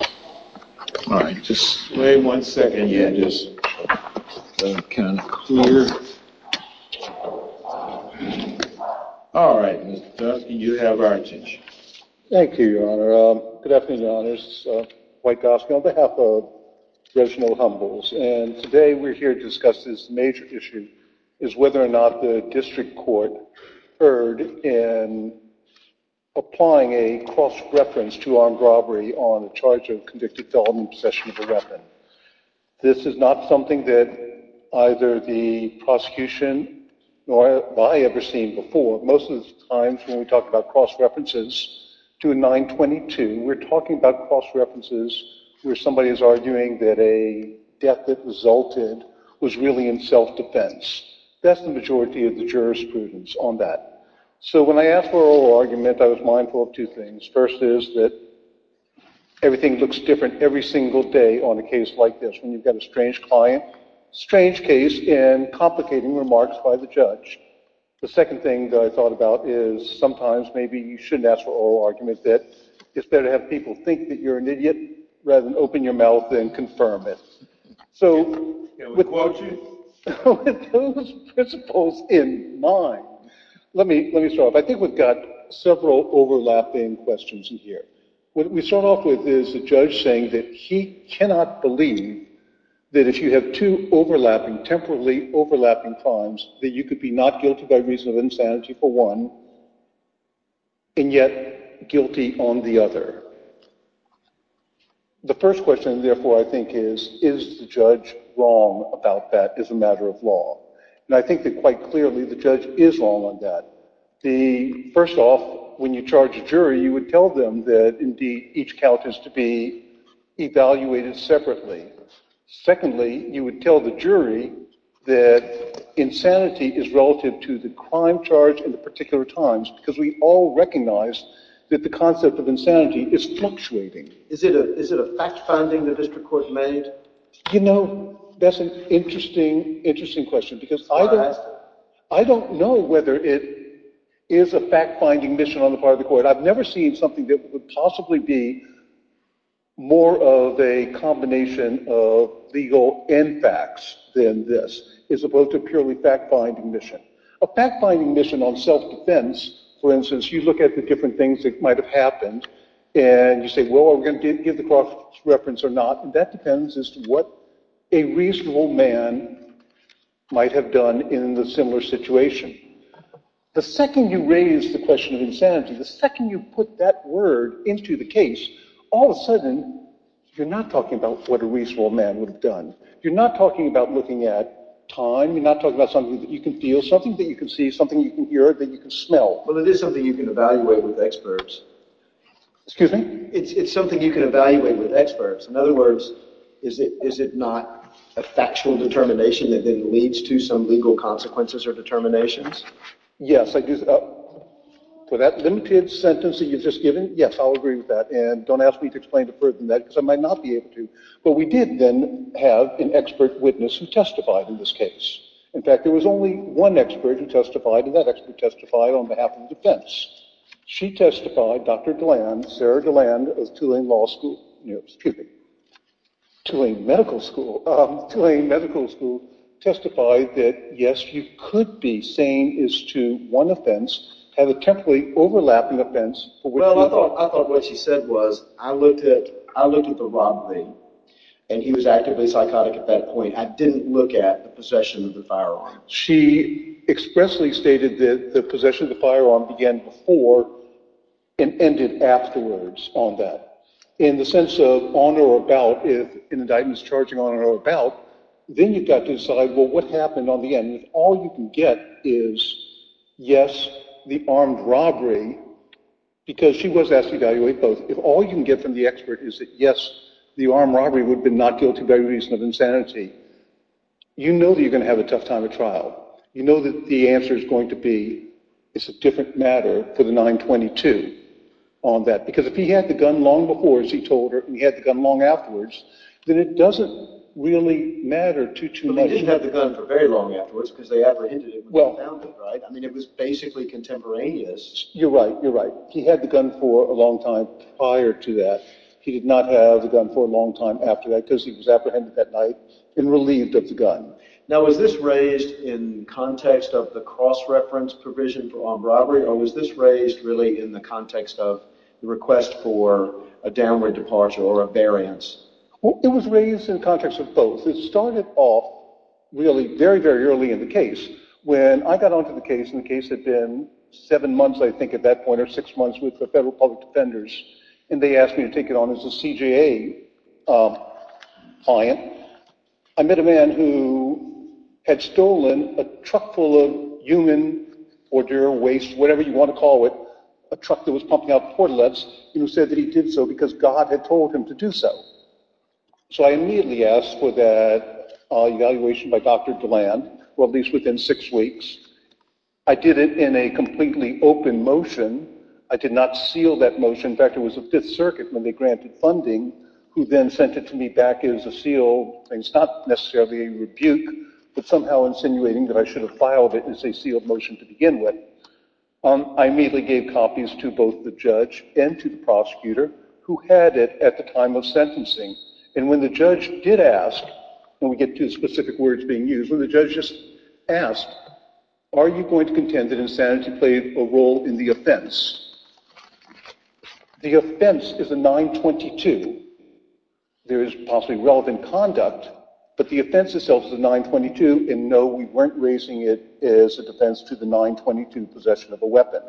and today we're here to discuss this major issue, is whether or not the district court erred in applying a cross-reference to armed robbery on a charge of convicted felon in possession of a weapon. This is not something that either the prosecution nor have I ever seen before. Most of the times when we talk about cross-references to a 922, we're talking about cross-references where somebody is arguing that a death that resulted was really in self-defense. That's the majority of the jurisprudence on that. So when I asked for oral argument, I was mindful of two things. First is that everything looks different every single day on a case like this. When you've got a strange client, strange case, and complicating remarks by the judge. The second thing that I thought about is sometimes maybe you shouldn't ask for oral argument, that it's better to have people think that you're an idiot rather than open your mouth and confirm it. So with those principles in mind, let me start off. I think we've got several overlapping questions in here. What we start off with is the judge saying that he cannot believe that if you have two overlapping, temporally overlapping crimes, that you could be not guilty by reason of insanity for one, and yet guilty on the other. The first question, therefore, I think is, is the judge wrong about that as a matter of law? And I think that quite clearly the judge is wrong on that. First off, when you charge a jury, you would tell them that indeed each count is to be evaluated separately. Secondly, you would tell the jury that insanity is relative to the crime charge in the particular times because we all recognize that the concept of insanity is fluctuating. Is it a fact-finding that this court made? You know, that's an interesting question because I don't know whether it is a fact-finding mission on the part of the court. I've never seen something that would possibly be more of a combination of legal and facts than this, as opposed to a purely fact-finding mission. A fact-finding mission on self-defense, for instance, you look at the different things that might have happened, and you say, well, are we going to give the cross-reference or not? That depends as to what a reasonable man might have done in the similar situation. The second you raise the question of insanity, the second you put that word into the case, all of a sudden you're not talking about what a reasonable man would have done. You're not talking about looking at time. You're not talking about something that you can feel, something that you can see, something you can hear, that you can smell. Well, it is something you can evaluate with experts. Excuse me? It's something you can evaluate with experts. In other words, is it not a factual determination that then leads to some legal consequences or determinations? Yes, I do. For that limited sentence that you've just given, yes, I'll agree with that. And don't ask me to explain to further than that because I might not be able to. But we did then have an expert witness who testified in this case. In fact, there was only one expert who testified, and that expert testified on behalf of defense. She testified, Dr. Galland, Sarah Galland of Tulane Medical School, testified that, yes, you could be saying as to one offense had a temporally overlapping offense. Well, I thought what she said was I looked at the robbery, and he was actively psychotic at that point. I didn't look at the possession of the firearm. She expressly stated that the possession of the firearm began before and ended afterwards on that. In the sense of on or about, if an indictment is charging on or about, then you've got to decide, well, what happened on the end? And if all you can get is, yes, the armed robbery, because she was asked to evaluate both, if all you can get from the expert is that, yes, the armed robbery would have been not guilty by reason of insanity, you know that you're going to have a tough time at trial. You know that the answer is going to be it's a different matter for the 922 on that. Because if he had the gun long before, as he told her, and he had the gun long afterwards, then it doesn't really matter too much. He didn't have the gun for very long afterwards, because they apprehended him when they found him, right? I mean, it was basically contemporaneous. You're right. You're right. He had the gun for a long time prior to that. He did not have the gun for a long time after that, because he was apprehended that night and relieved of the gun. Now, was this raised in context of the cross-reference provision for armed robbery, or was this raised really in the context of the request for a downward departure or a variance? It was raised in context of both. It started off really very, very early in the case. When I got onto the case, and the case had been seven months, I think, at that point, or six months with the Federal Public Defenders, and they asked me to take it on as a CJA client, I met a man who had stolen a truck full of human ordeal, waste, whatever you want to call it, a truck that was pumping out port-a-lets, and he said that he did so because God had told him to do so. So I immediately asked for that evaluation by Dr. DeLand, or at least within six weeks. I did it in a completely open motion. I did not seal that motion. In fact, it was the Fifth Circuit, when they granted funding, who then sent it to me back as a sealed, and it's not necessarily a rebuke, but somehow insinuating that I should have filed it as a sealed motion to begin with. I immediately gave copies to both the judge and to the prosecutor, who had it at the time of sentencing, and when the judge did ask, and we get two specific words being used, when the judge just asked, are you going to contend that insanity played a role in the offense, the offense is a 922. There is possibly relevant conduct, but the offense itself is a 922, and no, we weren't raising it as a defense to the 922 possession of a weapon.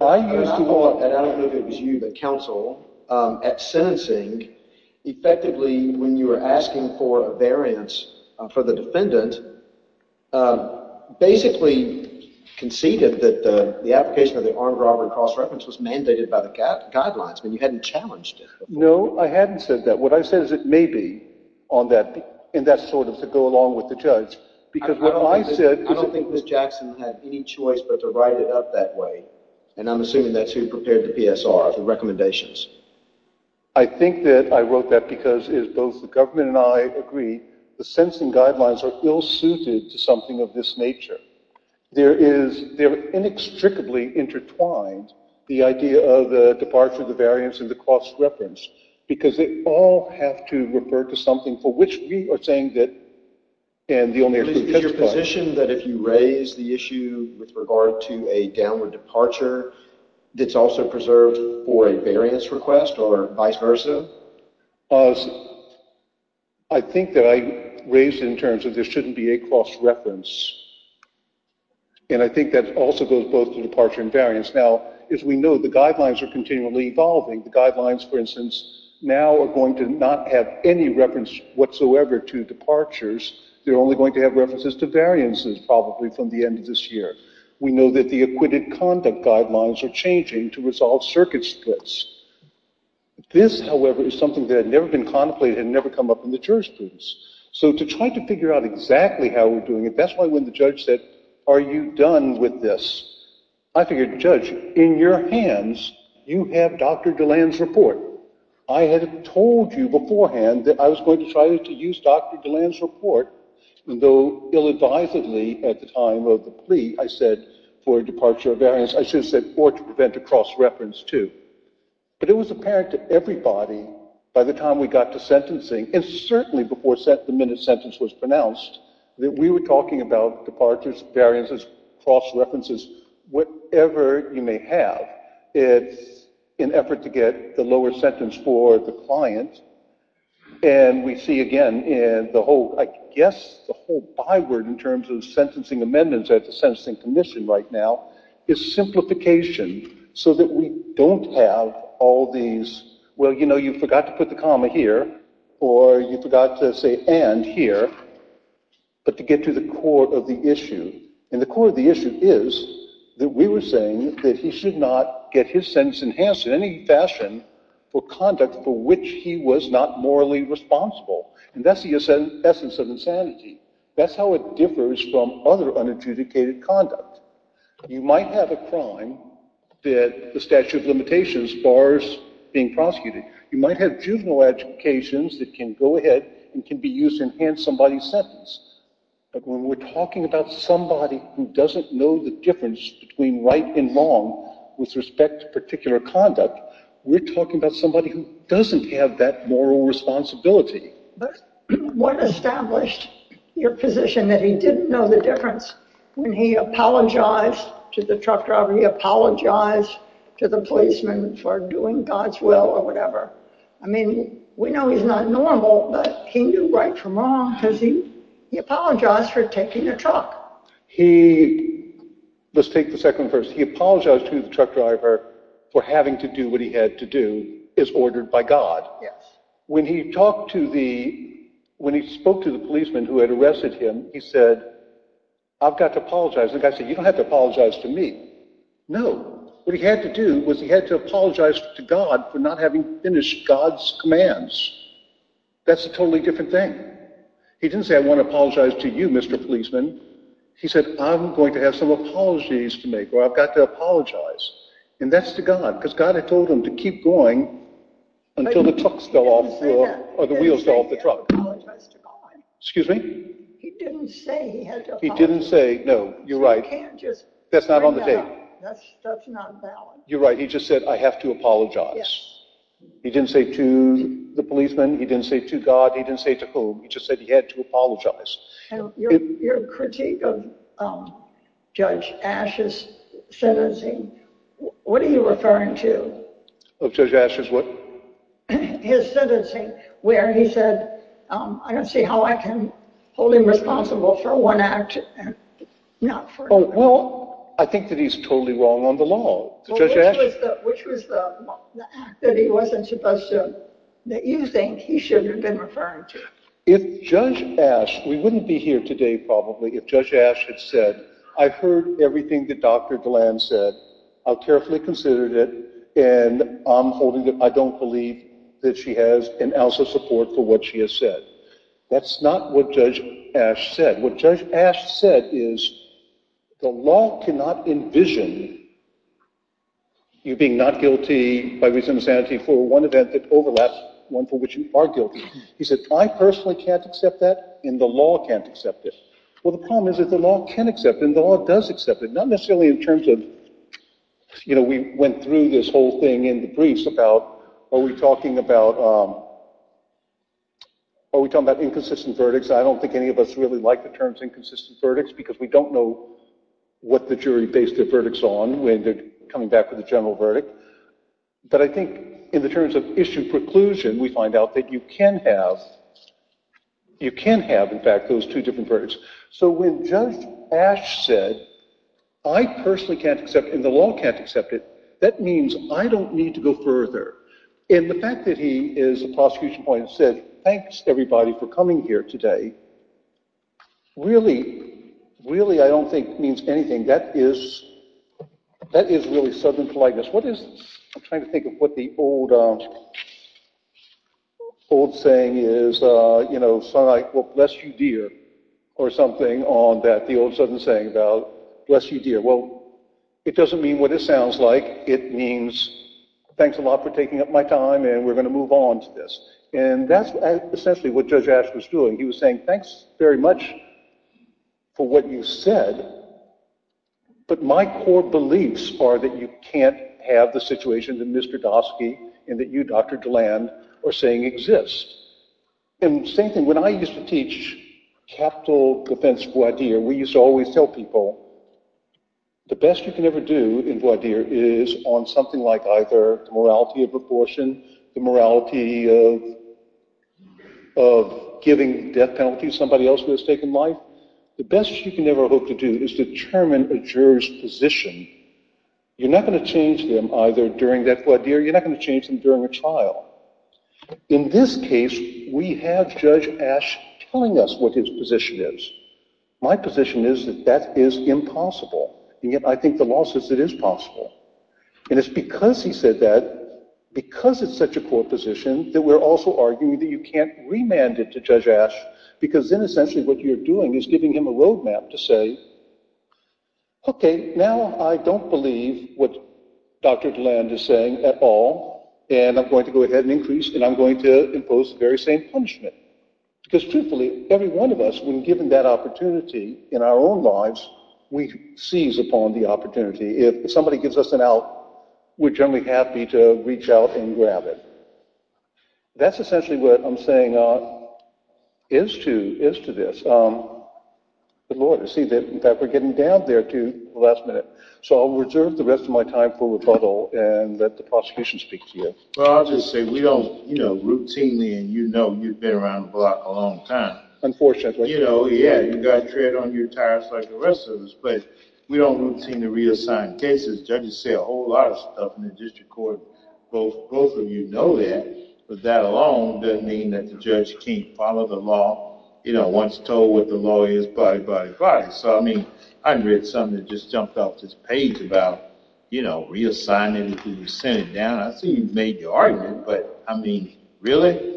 I used the law, and I don't know if it was you, the counsel, at sentencing, effectively when you were asking for a variance for the defendant, basically conceded that the application of the armed robbery cross-reference was mandated by the guidelines. I mean, you hadn't challenged it. No, I hadn't said that. What I said is it may be, and that's sort of to go along with the judge. I don't think Ms. Jackson had any choice but to write it up that way, and I'm assuming that's who prepared the PSR, the recommendations. I think that I wrote that because, as both the government and I agree, the sentencing guidelines are ill-suited to something of this nature. They're inextricably intertwined, the idea of the departure, the variance, and the cross-reference, because they all have to refer to something for which we are saying that, and the only way to testify. Is your position that if you raise the issue with regard to a downward departure, it's also preserved for a variance request or vice versa? I think that I raised it in terms of there shouldn't be a cross-reference, and I think that also goes both to departure and variance. Now, as we know, the guidelines are continually evolving. The guidelines, for instance, now are going to not have any reference whatsoever to departures. They're only going to have references to variances probably from the end of this year. We know that the acquitted conduct guidelines are changing to resolve circuit splits. This, however, is something that had never been contemplated and never come up in the jurisprudence. So to try to figure out exactly how we're doing it, that's why when the judge said, Are you done with this? I figured, Judge, in your hands, you have Dr. DeLand's report. I had told you beforehand that I was going to try to use Dr. DeLand's report, though ill-advisedly at the time of the plea, I said, for departure or variance, I should have said, or to prevent a cross-reference too. But it was apparent to everybody by the time we got to sentencing, and certainly before the minute sentence was pronounced, that we were talking about departures, variances, cross-references, whatever you may have. It's an effort to get the lower sentence for the client, and we see again in the whole, I guess the whole byword in terms of sentencing amendments at the Sentencing Commission right now is simplification so that we don't have all these, well, you know, you forgot to put the comma here, or you forgot to say and here, but to get to the core of the issue. And the core of the issue is that we were saying that he should not get his sentence enhanced in any fashion for conduct for which he was not morally responsible. And that's the essence of insanity. That's how it differs from other unadjudicated conduct. You might have a crime that the statute of limitations bars being prosecuted. You might have juvenile educations that can go ahead and can be used to enhance somebody's sentence. But when we're talking about somebody who doesn't know the difference between right and wrong with respect to particular conduct, we're talking about somebody who doesn't have that moral responsibility. But what established your position that he didn't know the difference when he apologized to the truck driver, he apologized to the policeman for doing God's will or whatever? I mean, we know he's not normal, but he knew right from wrong because he apologized for taking a truck. He, let's take the second verse, he apologized to the truck driver for having to do what he had to do is ordered by God. When he spoke to the policeman who had arrested him, he said, I've got to apologize. The guy said, you don't have to apologize to me. No. What he had to do was he had to apologize to God for not having finished God's commands. That's a totally different thing. He didn't say, I want to apologize to you, Mr. Policeman. He said, I'm going to have some apologies to make or I've got to apologize. And that's to God because God had told him to keep going until the truck fell off or the wheels fell off the truck. He didn't say he had to apologize. He didn't say, no, you're right. That's not on the tape. That's not valid. You're right. He just said, I have to apologize. He didn't say to the policeman. He didn't say to God. He didn't say to whom. He just said he had to apologize. Your critique of Judge Ash's sentencing, what are you referring to? Of Judge Ash's what? His sentencing where he said, I don't see how I can hold him responsible for one act and not for another. Well, I think that he's totally wrong on the law. Which was the act that he wasn't supposed to, that you think he should have been referring to? If Judge Ash, we wouldn't be here today probably, if Judge Ash had said, I've heard everything that Dr. Galland said. I've carefully considered it and I'm holding it. I don't believe that she has an ounce of support for what she has said. That's not what Judge Ash said. What Judge Ash said is, the law cannot envision you being not guilty by reason of insanity for one event that overlaps, one for which you are guilty. He said, I personally can't accept that and the law can't accept it. Well, the problem is that the law can accept it and the law does accept it. Not necessarily in terms of, you know, we went through this whole thing in the briefs about, are we talking about inconsistent verdicts? I don't think any of us really like the terms inconsistent verdicts because we don't know what the jury based their verdicts on when they're coming back with a general verdict. But I think in the terms of issue preclusion, we find out that you can have, you can have in fact those two different verdicts. So when Judge Ash said, I personally can't accept and the law can't accept it, that means I don't need to go further. And the fact that he is a prosecution point and said, thanks everybody for coming here today, really, really I don't think means anything. That is, that is really sudden politeness. What is, I'm trying to think of what the old saying is, you know, son I, well bless you dear, or something on that. The old sudden saying about bless you dear. Well, it doesn't mean what it sounds like. It means thanks a lot for taking up my time and we're going to move on to this. And that's essentially what Judge Ash was doing. He was saying, thanks very much for what you said, but my core beliefs are that you can't have the situation that Mr. Dostky and that you Dr. Deland are saying exists. And same thing, when I used to teach capital defense voir dire, we used to always tell people, the best you can ever do in voir dire is on something like either the morality of abortion, the morality of giving death penalties to somebody else who has taken life. The best you can ever hope to do is determine a juror's position. You're not going to change them either during that voir dire, you're not going to change them during a trial. In this case, we have Judge Ash telling us what his position is. My position is that that is impossible, and yet I think the law says it is possible. And it's because he said that, because it's such a core position, that we're also arguing that you can't remand it to Judge Ash, because then essentially what you're doing is giving him a road map to say, okay, now I don't believe what Dr. Deland is saying at all, and I'm going to go ahead and increase and I'm going to impose the very same punishment. Because truthfully, every one of us, when given that opportunity in our own lives, we seize upon the opportunity. If somebody gives us an out, we're generally happy to reach out and grab it. That's essentially what I'm saying is to this. But Lord, I see that we're getting down there to the last minute, so I'll reserve the rest of my time for rebuttal and let the prosecution speak to you. Well, I'll just say we don't routinely, and you know you've been around the block a long time. You know, yeah, you got tread on your tires like the rest of us, but we don't routinely reassign cases. Judges say a whole lot of stuff in the district court. Both of you know that, but that alone doesn't mean that the judge can't follow the law. You know, once told what the law is, body, body, body. So, I mean, I read something that just jumped off this page about, you know, reassigning who was sent down. I see you've made your argument, but I mean, really?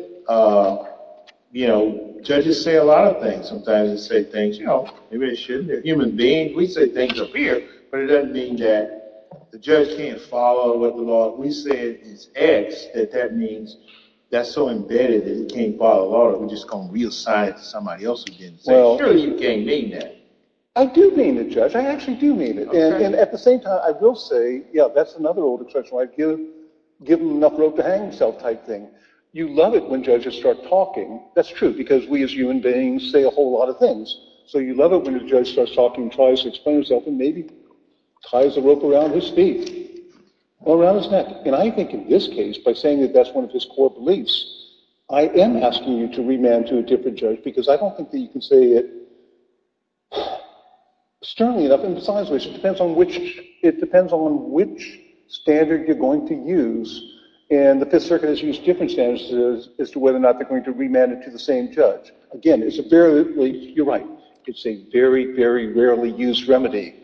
You know, judges say a lot of things. Sometimes they say things, you know, they really shouldn't. They're human beings. We say things up here, but it doesn't mean that the judge can't follow what the law is. We say it's X, that that means that's so embedded that it can't follow the law that we're just going to reassign it to somebody else who didn't say it. I'm sure you can't mean that. I do mean it, Judge. I actually do mean it. And at the same time, I will say, yeah, that's another old expression like give him enough rope to hang himself type thing. You love it when judges start talking. That's true because we as human beings say a whole lot of things. So you love it when a judge starts talking and tries to explain himself and maybe ties a rope around his feet or around his neck. And I think in this case, by saying that that's one of his core beliefs, I am asking you to remand to a different judge because I don't think that you can say it sternly enough. And besides which, it depends on which standard you're going to use. And the Fifth Circuit has used different standards as to whether or not they're going to remand it to the same judge. Again, you're right. It's a very, very rarely used remedy.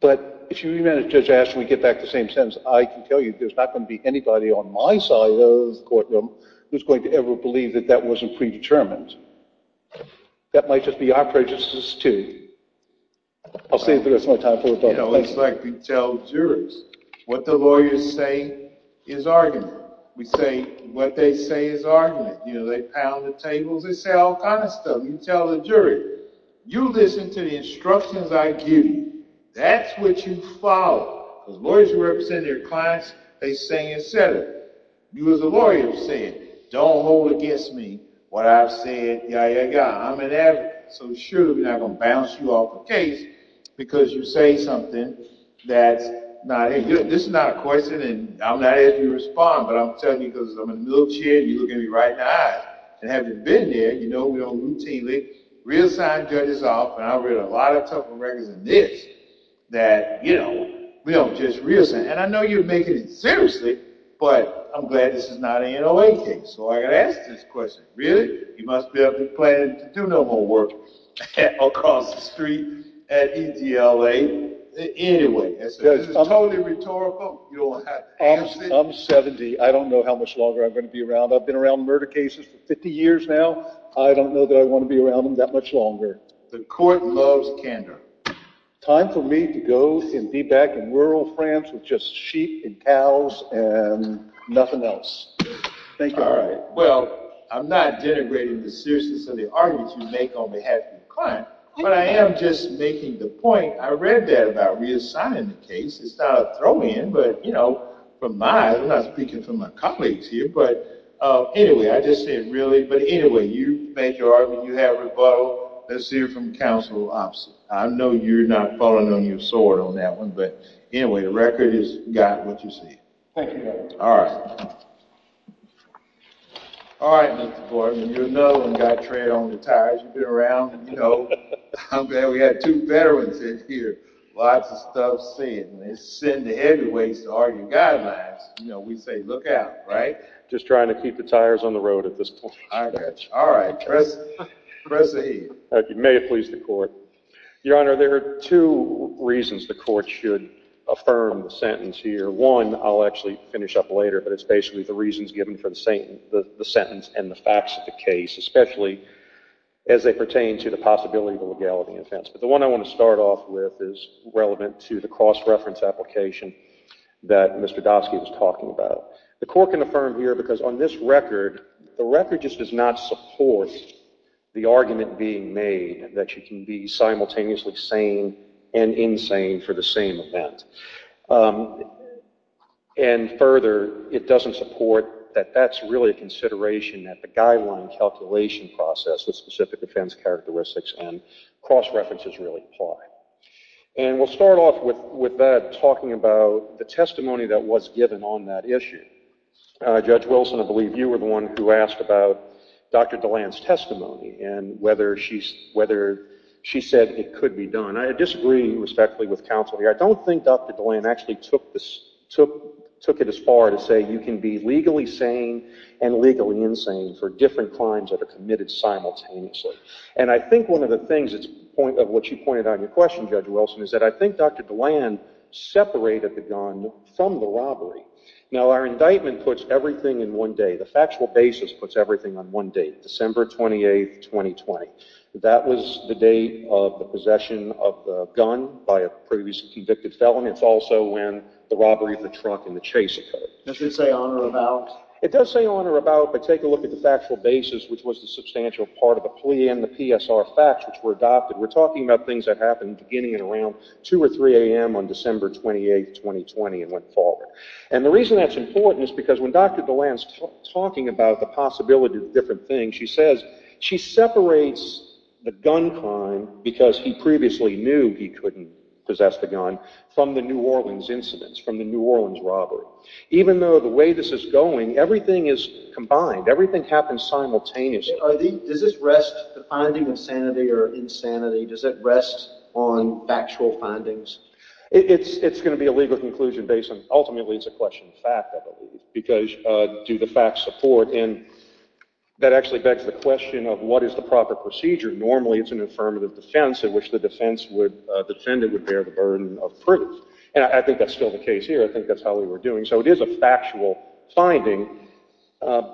But if you remand it to Judge Ashton, we get back to the same sentence. I can tell you there's not going to be anybody on my side of the courtroom who's going to ever believe that that wasn't predetermined. That might just be our prejudices too. I'll say it the rest of my time. You know, it's like we tell jurors. What the lawyers say is argument. We say what they say is argument. You know, they pound the tables. They say all kinds of stuff. You tell the jury, you listen to the instructions I give you. That's what you follow. As lawyers who represent their clients, they say and say it. You, as a lawyer, say it. Don't hold against me what I've said. I'm an advocate. So surely we're not going to bounce you off the case because you say something that's not. This is not a question, and I'm not asking you to respond. But I'm telling you because I'm in a wheelchair and you look at me right in the eye. And having been there, you know we don't routinely reassign judges off. And I've read a lot of tougher records than this that, you know, we don't just reassign. And I know you're making it seriously, but I'm glad this is not an NOA case. So I got to ask this question. Really? You must be planning to do no more work across the street at EDLA. Anyway, this is totally rhetorical. You don't have to answer it. I'm 70. I don't know how much longer I'm going to be around. I've been around murder cases for 50 years now. I don't know that I want to be around them that much longer. The court loves candor. Time for me to go and be back in rural France with just sheep and cows and nothing else. Thank you. All right. Well, I'm not denigrating the seriousness of the arguments you make on behalf of your client. But I am just making the point. I read that about reassigning the case. It's not a throw-in, but, you know, from my, I'm not speaking for my colleagues here. But anyway, I just said really. But anyway, you made your argument. You have rebuttal. Let's hear from counsel opposite. I know you're not falling on your sword on that one. But anyway, the record has got what you say. Thank you, Governor. All right. All right, Mr. Gordon. You're another one that got tread on the tires. You've been around, you know. I'm glad we have two veterans in here. Lots of stuff said. And they send the heavyweights to argue guidelines. You know, we say, look out, right? Just trying to keep the tires on the road at this point. I got you. All right. Proceed. You may have pleased the court. Your Honor, there are two reasons the court should affirm the sentence here. One, I'll actually finish up later, but it's basically the reasons given for the sentence and the facts of the case, especially as they pertain to the possibility of a legality offense. But the one I want to start off with is relevant to the cross-reference application that Mr. Dasky was talking about. The court can affirm here because on this record, the record just does not support the argument being made that you can be simultaneously sane and insane for the same event. And further, it doesn't support that that's really a consideration that the guideline calculation process with specific defense characteristics and cross-references really apply. And we'll start off with that talking about the testimony that was given on that issue. Judge Wilson, I believe you were the one who asked about Dr. DeLand's testimony and whether she said it could be done. I disagree respectfully with counsel here. I don't think Dr. DeLand actually took it as far to say you can be legally sane and legally insane for different crimes that are committed simultaneously. And I think one of the things of what you pointed out in your question, Judge Wilson, is that I think Dr. DeLand separated the gun from the robbery. Now, our indictment puts everything in one day. The factual basis puts everything on one date, December 28, 2020. That was the date of the possession of the gun by a previously convicted felon. It's also when the robbery of the truck and the chase occurred. Does it say on or about? It does say on or about, but take a look at the factual basis, which was the substantial part of the plea and the PSR facts which were adopted. We're talking about things that happened beginning at around 2 or 3 a.m. on December 28, 2020, and went forward. And the reason that's important is because when Dr. DeLand's talking about the possibility of different things, she says she separates the gun crime, because he previously knew he couldn't possess the gun, from the New Orleans incidents, from the New Orleans robbery. Even though the way this is going, everything is combined. Everything happens simultaneously. Does this rest, the finding of sanity or insanity, does it rest on factual findings? It's going to be a legal conclusion based on, ultimately, it's a question of fact, I believe, because do the facts support? And that actually begs the question of what is the proper procedure? Normally, it's an affirmative defense in which the defendant would bear the burden of proof. And I think that's still the case here. I think that's how we were doing. So it is a factual finding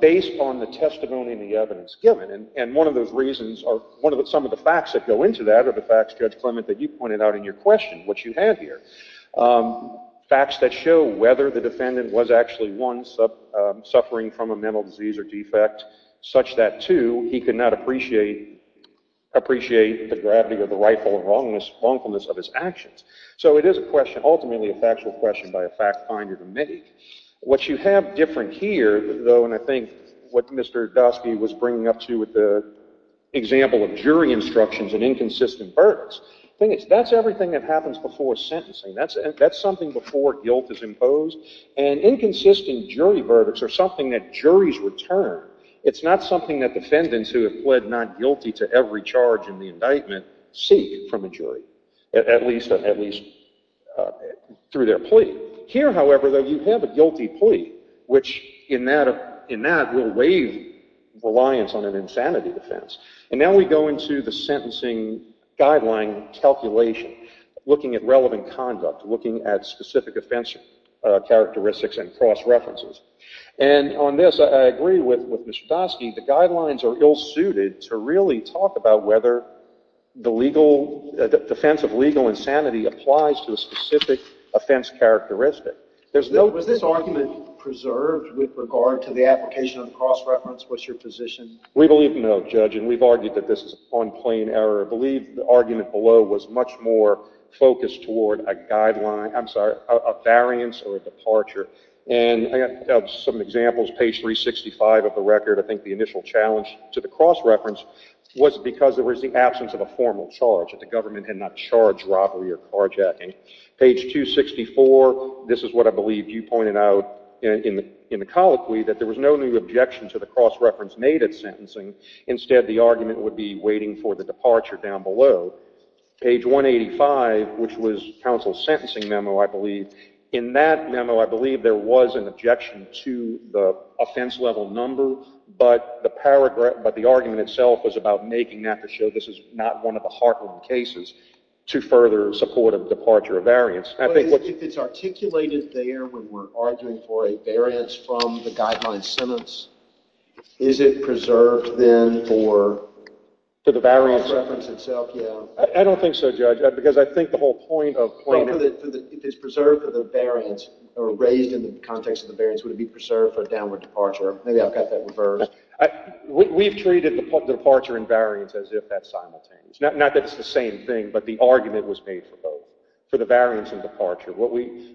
based on the testimony and the evidence given. And one of those reasons are some of the facts that go into that are the facts, Judge Clement, that you pointed out in your question, what you have here, facts that show whether the defendant was actually, one, suffering from a mental disease or defect, such that, two, he could not appreciate the gravity of the rightful wrongfulness of his actions. So it is a question, ultimately, a factual question by a fact finder to make. What you have different here, though, and I think what Mr. Dosky was bringing up, too, with the example of jury instructions and inconsistent verdicts, the thing is, that's everything that happens before sentencing. That's something before guilt is imposed. And inconsistent jury verdicts are something that juries return. It's not something that defendants who have pled not guilty to every charge in the indictment seek from a jury, at least through their plea. Here, however, though, you have a guilty plea, which in that will waive reliance on an insanity defense. And now we go into the sentencing guideline calculation, looking at relevant conduct, looking at specific offense characteristics and cross-references. And on this, I agree with Mr. Dosky, the guidelines are ill-suited to really talk about whether the defense of legal insanity applies to a specific offense characteristic. Was this argument preserved with regard to the application of cross-reference? What's your position? We believe no, Judge, and we've argued that this is on plain error. I believe the argument below was much more focused toward a variance or a departure. And I have some examples. Page 365 of the record, I think the initial challenge to the cross-reference was because there was the absence of a formal charge, that the government had not charged robbery or carjacking. Page 264, this is what I believe you pointed out in the colloquy, that there was no new objection to the cross-reference made at sentencing. Instead, the argument would be waiting for the departure down below. Page 185, which was counsel's sentencing memo, I believe. In that memo, I believe there was an objection to the offense-level number, but the argument itself was about making that to show this is not one of the heartwarming cases to further support a departure or variance. If it's articulated there when we're arguing for a variance from the guideline sentence, is it preserved then for the cross-reference itself? I don't think so, Judge, because I think the whole point of plain error— If it's preserved for the variance or raised in the context of the variance, would it be preserved for a downward departure? Maybe I've got that reversed. We've treated the departure and variance as if that's simultaneous. Not that it's the same thing, but the argument was made for both, for the variance and departure.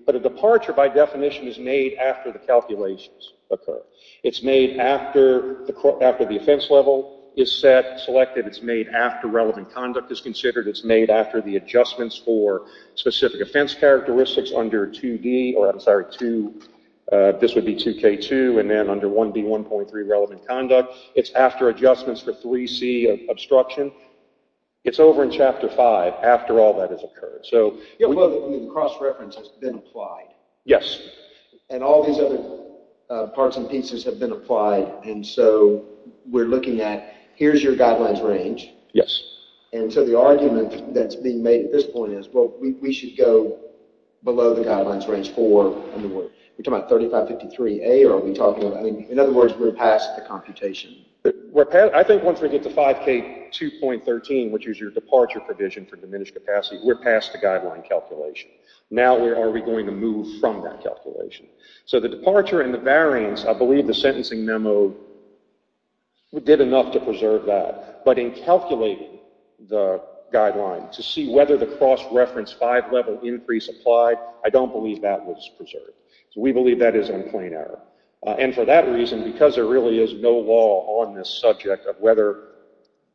But a departure, by definition, is made after the calculations occur. It's made after the offense level is set, selected. It's made after relevant conduct is considered. It's made after the adjustments for specific offense characteristics under 2D— This would be 2K2, and then under 1B1.3, relevant conduct. It's after adjustments for 3C, obstruction. It's over in Chapter 5, after all that has occurred. The cross-reference has been applied. Yes. And all these other parts and pieces have been applied, and so we're looking at, here's your guidelines range. Yes. And so the argument that's being made at this point is, well, we should go below the guidelines range for— Are we talking about 3553A, or are we talking about— I mean, in other words, we're past the computation. I think once we get to 5K2.13, which is your departure provision for diminished capacity, we're past the guideline calculation. Now where are we going to move from that calculation? So the departure and the variance, I believe the sentencing memo did enough to preserve that. But in calculating the guideline to see whether the cross-reference five-level increase applied, I don't believe that was preserved. So we believe that is a plain error. And for that reason, because there really is no law on this subject of whether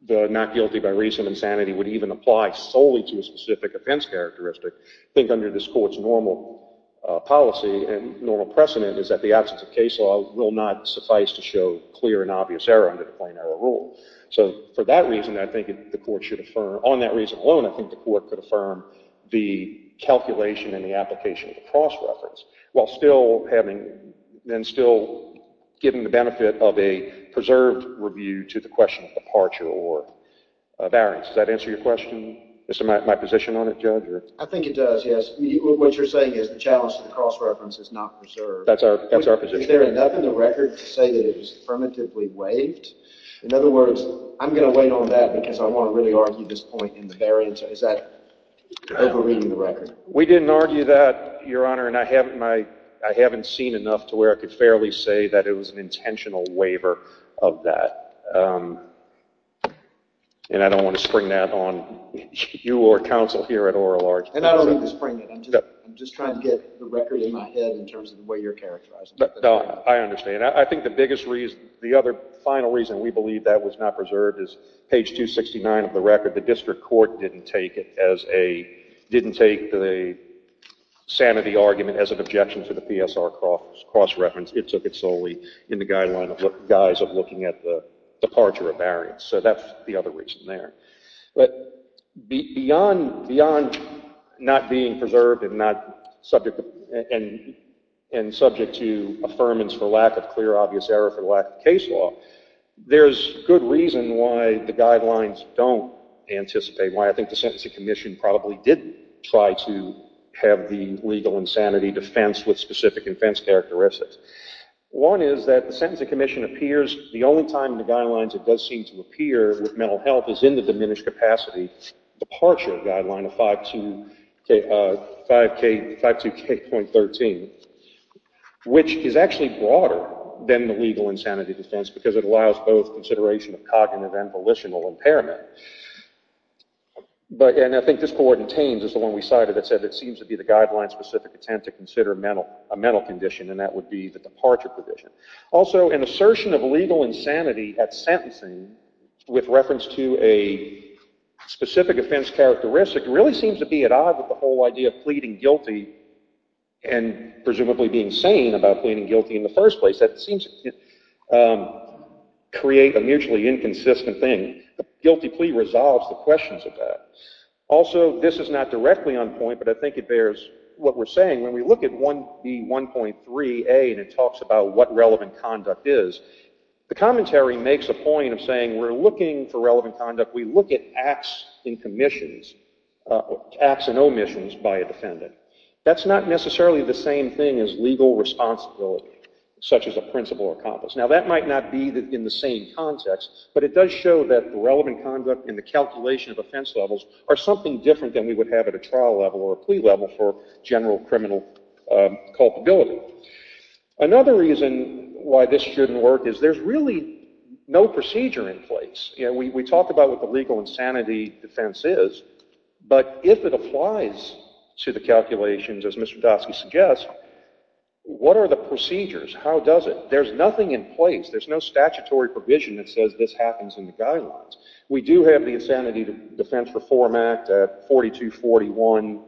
the not guilty by reason of insanity would even apply solely to a specific offense characteristic, I think under this Court's normal policy and normal precedent is that the absence of case law will not suffice to show clear and obvious error under the plain error rule. So for that reason, I think the Court should affirm— on that reason alone, I think the Court could affirm the calculation and the application of the cross-reference while still having—and still giving the benefit of a preserved review to the question of departure or variance. Does that answer your question? Is that my position on it, Judge? I think it does, yes. What you're saying is the challenge to the cross-reference is not preserved. That's our position. Is there enough in the record to say that it was affirmatively waived? In other words, I'm going to wait on that because I want to really argue this point in the variance. Is that over-reading the record? We didn't argue that, Your Honor. And I haven't seen enough to where I could fairly say that it was an intentional waiver of that. And I don't want to spring that on you or counsel here at oral arts. And I don't mean to spring it. I'm just trying to get the record in my head in terms of the way you're characterizing it. No, I understand. And I think the biggest reason—the other final reason we believe that was not preserved is page 269 of the record. The district court didn't take it as a—didn't take the sanity argument as an objection to the PSR cross-reference. It took it solely in the guise of looking at the departure or variance. So that's the other reason there. But beyond not being preserved and subject to affirmance for lack of clear, obvious error for lack of case law, there's good reason why the guidelines don't anticipate, why I think the Sentencing Commission probably didn't try to have the legal insanity defense with specific offense characteristics. One is that the Sentencing Commission appears— the only time in the guidelines it does seem to appear with mental health is in the diminished capacity departure guideline of 5.2K.13, which is actually broader than the legal insanity defense because it allows both consideration of cognitive and volitional impairment. And I think this court in Thames is the one we cited that said it seems to be the guideline-specific attempt to consider a mental condition, and that would be the departure provision. Also, an assertion of legal insanity at sentencing with reference to a specific offense characteristic really seems to be at odds with the whole idea of pleading guilty and presumably being sane about pleading guilty in the first place. That seems to create a mutually inconsistent thing. The guilty plea resolves the questions of that. Also, this is not directly on point, but I think it bears what we're saying. When we look at the 1.3A and it talks about what relevant conduct is, the commentary makes a point of saying we're looking for relevant conduct. We look at acts and omissions by a defendant. That's not necessarily the same thing as legal responsibility, such as a principle or compass. Now, that might not be in the same context, but it does show that the relevant conduct and the calculation of offense levels are something different than we would have at a trial level or a plea level for general criminal culpability. Another reason why this shouldn't work is there's really no procedure in place. We talk about what the legal insanity defense is, but if it applies to the calculations, as Mr. Dodsky suggests, what are the procedures? How does it? There's nothing in place. There's no statutory provision that says this happens in the guidelines. We do have the Insanity Defense Reform Act, 4241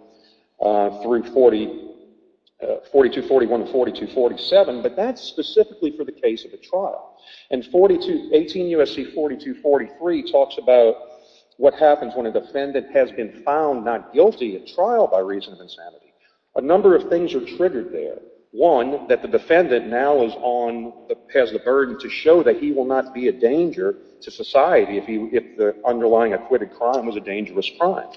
through 4247, but that's specifically for the case of a trial. And 18 U.S.C. 4243 talks about what happens when a defendant has been found not guilty at trial by reason of insanity. A number of things are triggered there. One, that the defendant now has the burden to show that he will not be a danger to society if the underlying acquitted crime was a dangerous crime.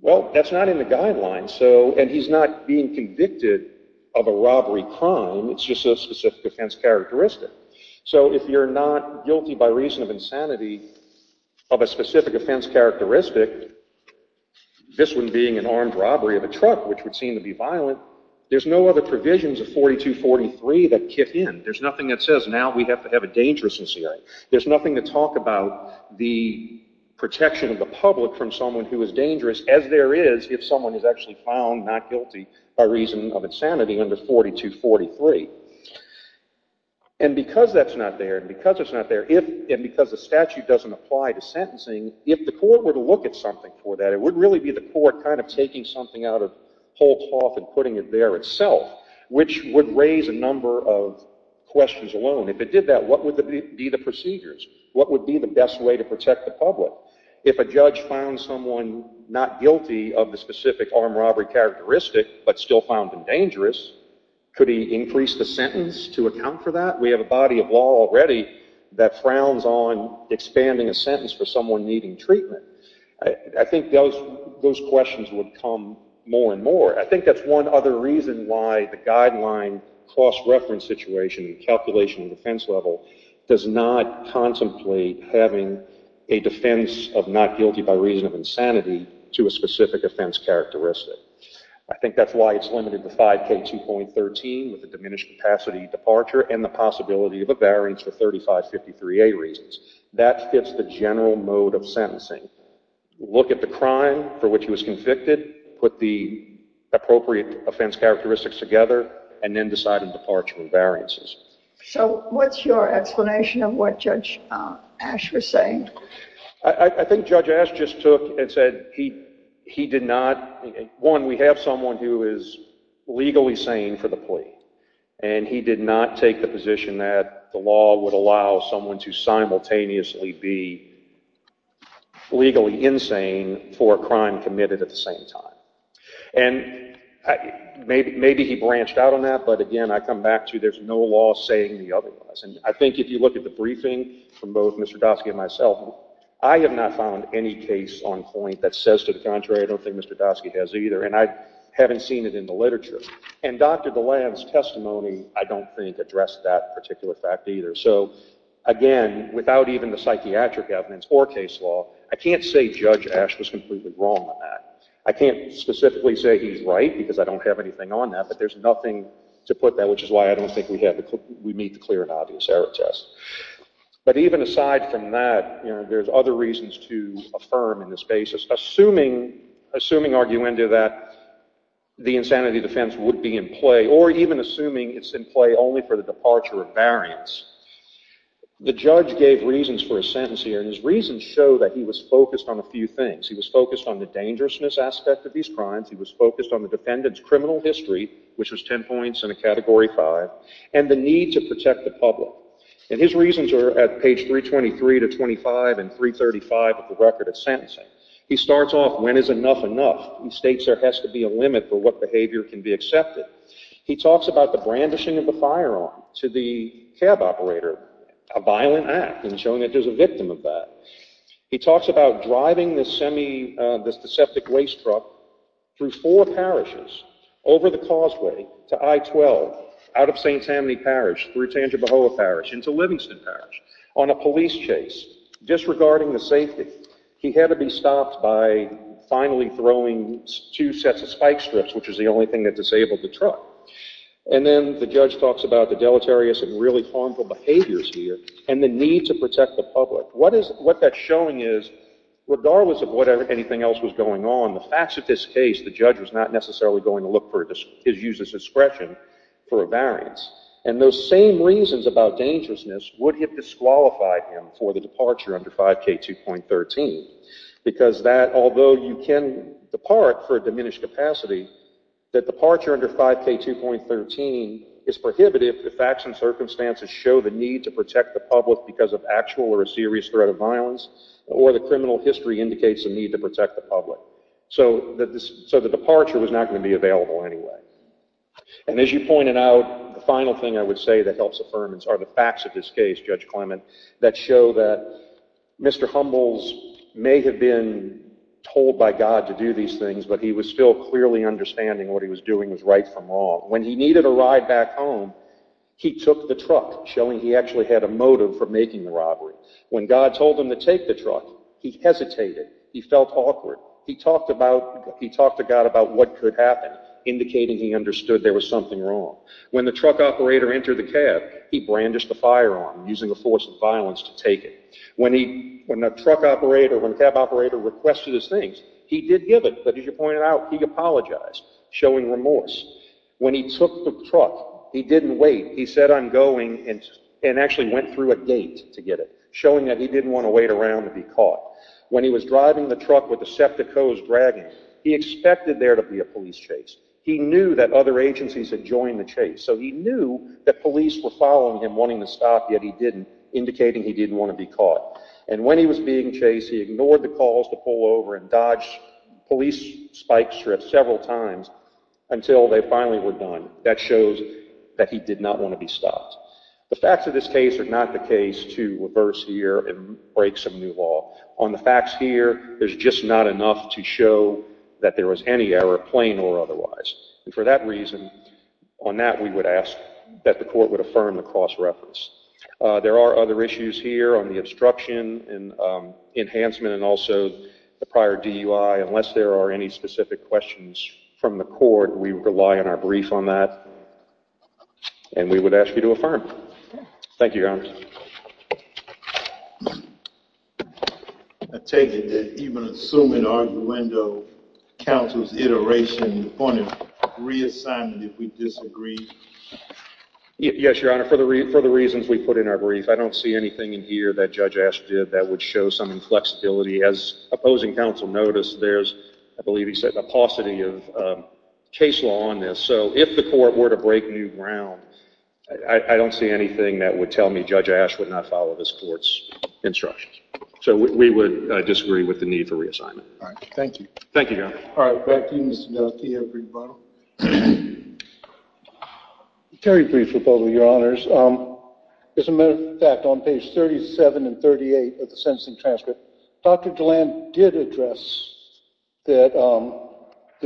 Well, that's not in the guidelines, and he's not being convicted of a robbery crime. It's just a specific offense characteristic. So if you're not guilty by reason of insanity of a specific offense characteristic, this one being an armed robbery of a truck, which would seem to be violent, there's no other provisions of 4243 that kick in. There's nothing that says now we have to have a dangerous incident. There's nothing to talk about the protection of the public from someone who is dangerous, as there is if someone is actually found not guilty by reason of insanity under 4243. And because that's not there, and because it's not there, and because the statute doesn't apply to sentencing, if the court were to look at something for that, it would really be the court kind of taking something out of whole cloth and putting it there itself, which would raise a number of questions alone. If it did that, what would be the procedures? What would be the best way to protect the public? If a judge found someone not guilty of the specific armed robbery characteristic, but still found it dangerous, could he increase the sentence to account for that? We have a body of law already that frowns on expanding a sentence for someone needing treatment. I think those questions would come more and more. I think that's one other reason why the guideline cross-reference situation, calculation of defense level, does not contemplate having a defense of not guilty by reason of insanity to a specific offense characteristic. I think that's why it's limited to 5K2.13 with a diminished capacity departure and the possibility of a variance for 3553A reasons. That fits the general mode of sentencing. Look at the crime for which he was convicted, put the appropriate offense characteristics together, and then decide on departure and variances. So what's your explanation of what Judge Ash was saying? I think Judge Ash just took and said he did not... One, we have someone who is legally sane for the plea, and he did not take the position that the law would allow someone to simultaneously be legally insane for a crime committed at the same time. And maybe he branched out on that, but again, I come back to there's no law saying the otherwise. And I think if you look at the briefing from both Mr. Doskey and myself, I have not found any case on point that says to the contrary. I don't think Mr. Doskey has either, and I haven't seen it in the literature. And Dr. DeLand's testimony, I don't think, addressed that particular fact either. So again, without even the psychiatric evidence or case law, I can't say Judge Ash was completely wrong on that. I can't specifically say he's right because I don't have anything on that, but there's nothing to put there, which is why I don't think we meet the clear and obvious error test. But even aside from that, there's other reasons to affirm in this basis, assuming arguendo that the insanity defense would be in play or even assuming it's in play only for the departure of variance. The judge gave reasons for his sentence here, and his reasons show that he was focused on a few things. He was focused on the dangerousness aspect of these crimes. He was focused on the defendant's criminal history, which was 10 points and a Category 5, and the need to protect the public. And his reasons are at page 323 to 25 and 335 of the record of sentencing. He starts off, when is enough enough? He states there has to be a limit for what behavior can be accepted. He talks about the brandishing of a firearm to the cab operator, a violent act, and showing that there's a victim of that. He talks about driving this deceptive race truck through four parishes, over the causeway to I-12, out of St. Tammany Parish, through Tangibahoa Parish, into Livingston Parish, on a police chase. Disregarding the safety, he had to be stopped by finally throwing two sets of spike strips, which is the only thing that disabled the truck. And then the judge talks about the deleterious and really harmful behaviors here, and the need to protect the public. What that's showing is, regardless of what anything else was going on, the facts of this case, the judge was not necessarily going to look for his user's discretion for a variance. And those same reasons about dangerousness would have disqualified him for the departure under 5K2.13. Because that, although you can depart for a diminished capacity, that departure under 5K2.13 is prohibitive if facts and circumstances show the need to protect the public because of actual or a serious threat of violence, or the criminal history indicates a need to protect the public. So the departure was not going to be available anyway. And as you pointed out, the final thing I would say that helps affirmance are the facts of this case, Judge Clement, that show that Mr. Humbles may have been told by God to do these things, but he was still clearly understanding what he was doing was right from wrong. When he needed a ride back home, he took the truck, showing he actually had a motive for making the robbery. When God told him to take the truck, he hesitated. He felt awkward. He talked to God about what could happen, indicating he understood there was something wrong. When the truck operator entered the cab, he brandished a firearm, using the force of violence to take it. When the cab operator requested his things, he did give it, but as you pointed out, he apologized, showing remorse. When he took the truck, he didn't wait. He said, I'm going, and actually went through a gate to get it, showing that he didn't want to wait around to be caught. When he was driving the truck with the septic hose dragging, he expected there to be a police chase. He knew that other agencies had joined the chase, so he knew that police were following him, wanting to stop, yet he didn't, indicating he didn't want to be caught. And when he was being chased, he ignored the calls to pull over and dodge police spike strips several times until they finally were done. That shows that he did not want to be stopped. The facts of this case are not the case to reverse here and break some new law. On the facts here, there's just not enough to show that there was any error, plain or otherwise. And for that reason, on that we would ask that the court would affirm the cross-reference. There are other issues here on the obstruction and enhancement and also the prior DUI. Unless there are any specific questions from the court, we rely on our brief on that, and we would ask you to affirm. Thank you, Your Honor. I take it that even assuming arguendo counsel's iteration on a reassignment if we disagree? Yes, Your Honor, for the reasons we put in our brief, I don't see anything in here that Judge Asch did that would show some inflexibility. As opposing counsel noticed, there's, I believe he said, a paucity of case law on this. So if the court were to break new ground, I don't see anything that would tell me Judge Asch would not follow this court's instructions. So we would disagree with the need for reassignment. All right. Thank you. Thank you, Your Honor. All right. Back to you, Mr. Delkey. Very brief report, Your Honors. As a matter of fact, on pages 37 and 38 of the sentencing transcript, Dr. DeLand did address that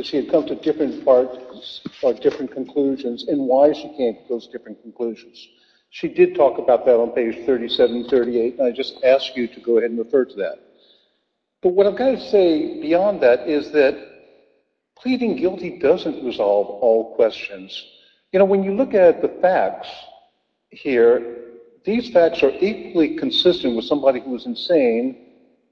she had come to different parts or different conclusions and why she came to those different conclusions. She did talk about that on page 37 and 38, and I just ask you to go ahead and refer to that. But what I've got to say beyond that is that pleading guilty doesn't resolve all questions. You know, when you look at the facts here, these facts are equally consistent with somebody who is insane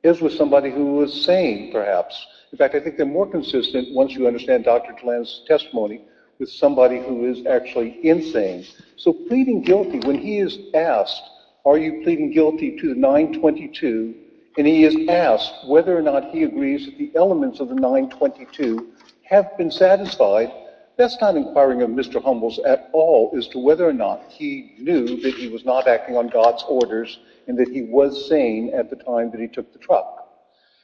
as with somebody who is sane, perhaps. In fact, I think they're more consistent, once you understand Dr. DeLand's testimony, with somebody who is actually insane. So pleading guilty, when he is asked, are you pleading guilty to 922, and he is asked whether or not he agrees that the elements of the 922 have been satisfied, that's not inquiring of Mr. Humbles at all as to whether or not he knew that he was not acting on God's orders and that he was sane at the time that he took the truck.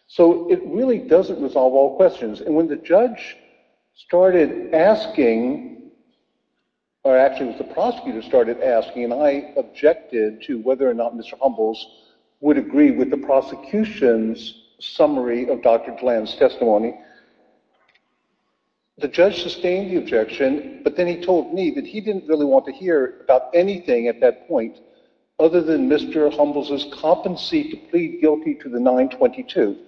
So it really doesn't resolve all questions. And when the judge started asking, or actually it was the prosecutor started asking, and I objected to whether or not Mr. Humbles would agree with the prosecution's summary of Dr. DeLand's testimony, the judge sustained the objection, but then he told me that he didn't really want to hear about anything at that point other than Mr. Humbles' competency to plead guilty to the 922.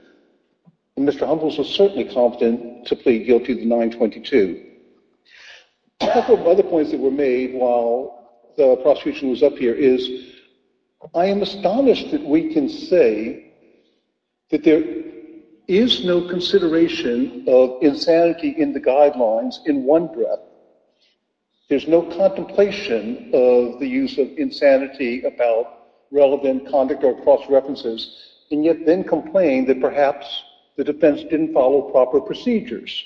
And Mr. Humbles was certainly confident to plead guilty to the 922. A couple of other points that were made while the prosecution was up here is I am astonished that we can say that there is no consideration of insanity in the guidelines in one breath. There's no contemplation of the use of insanity about relevant conduct or cross-references, and yet then complain that perhaps the defense didn't follow proper procedures.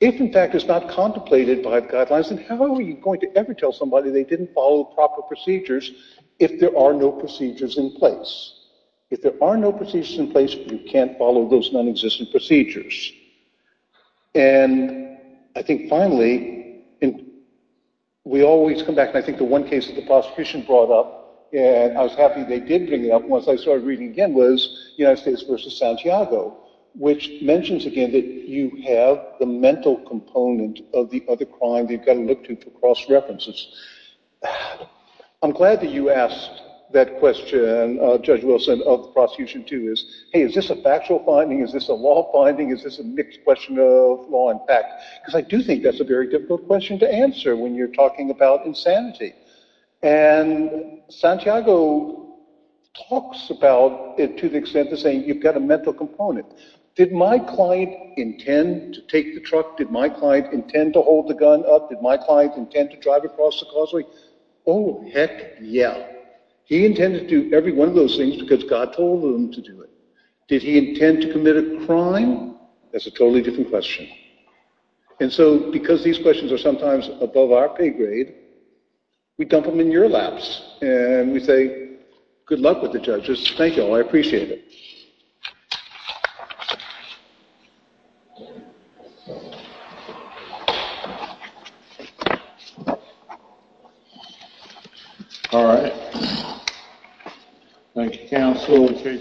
If in fact it's not contemplated by the guidelines, then how are you going to ever tell somebody they didn't follow proper procedures if there are no procedures in place? If there are no procedures in place, you can't follow those nonexistent procedures. And I think finally, we always come back, and I think the one case that the prosecution brought up, and I was happy they did bring it up once I started reading again, was United States v. Santiago, which mentions again that you have the mental component of the other crime that you've got to look to for cross-references. I'm glad that you asked that question, Judge Wilson, of the prosecution too. Is this a factual finding? Is this a law finding? Is this a mixed question of law and fact? Because I do think that's a very difficult question to answer when you're talking about insanity. And Santiago talks about it to the extent of saying you've got a mental component. Did my client intend to take the truck? Did my client intend to hold the gun up? Did my client intend to drive across the causeway? Oh, heck yeah. He intended to do every one of those things because God told him to do it. Did he intend to commit a crime? That's a totally different question. And so, because these questions are sometimes above our pay grade, we dump them in your laps. And we say, good luck with the judges. Thank you all. I appreciate it. All right. Thank you, counsel.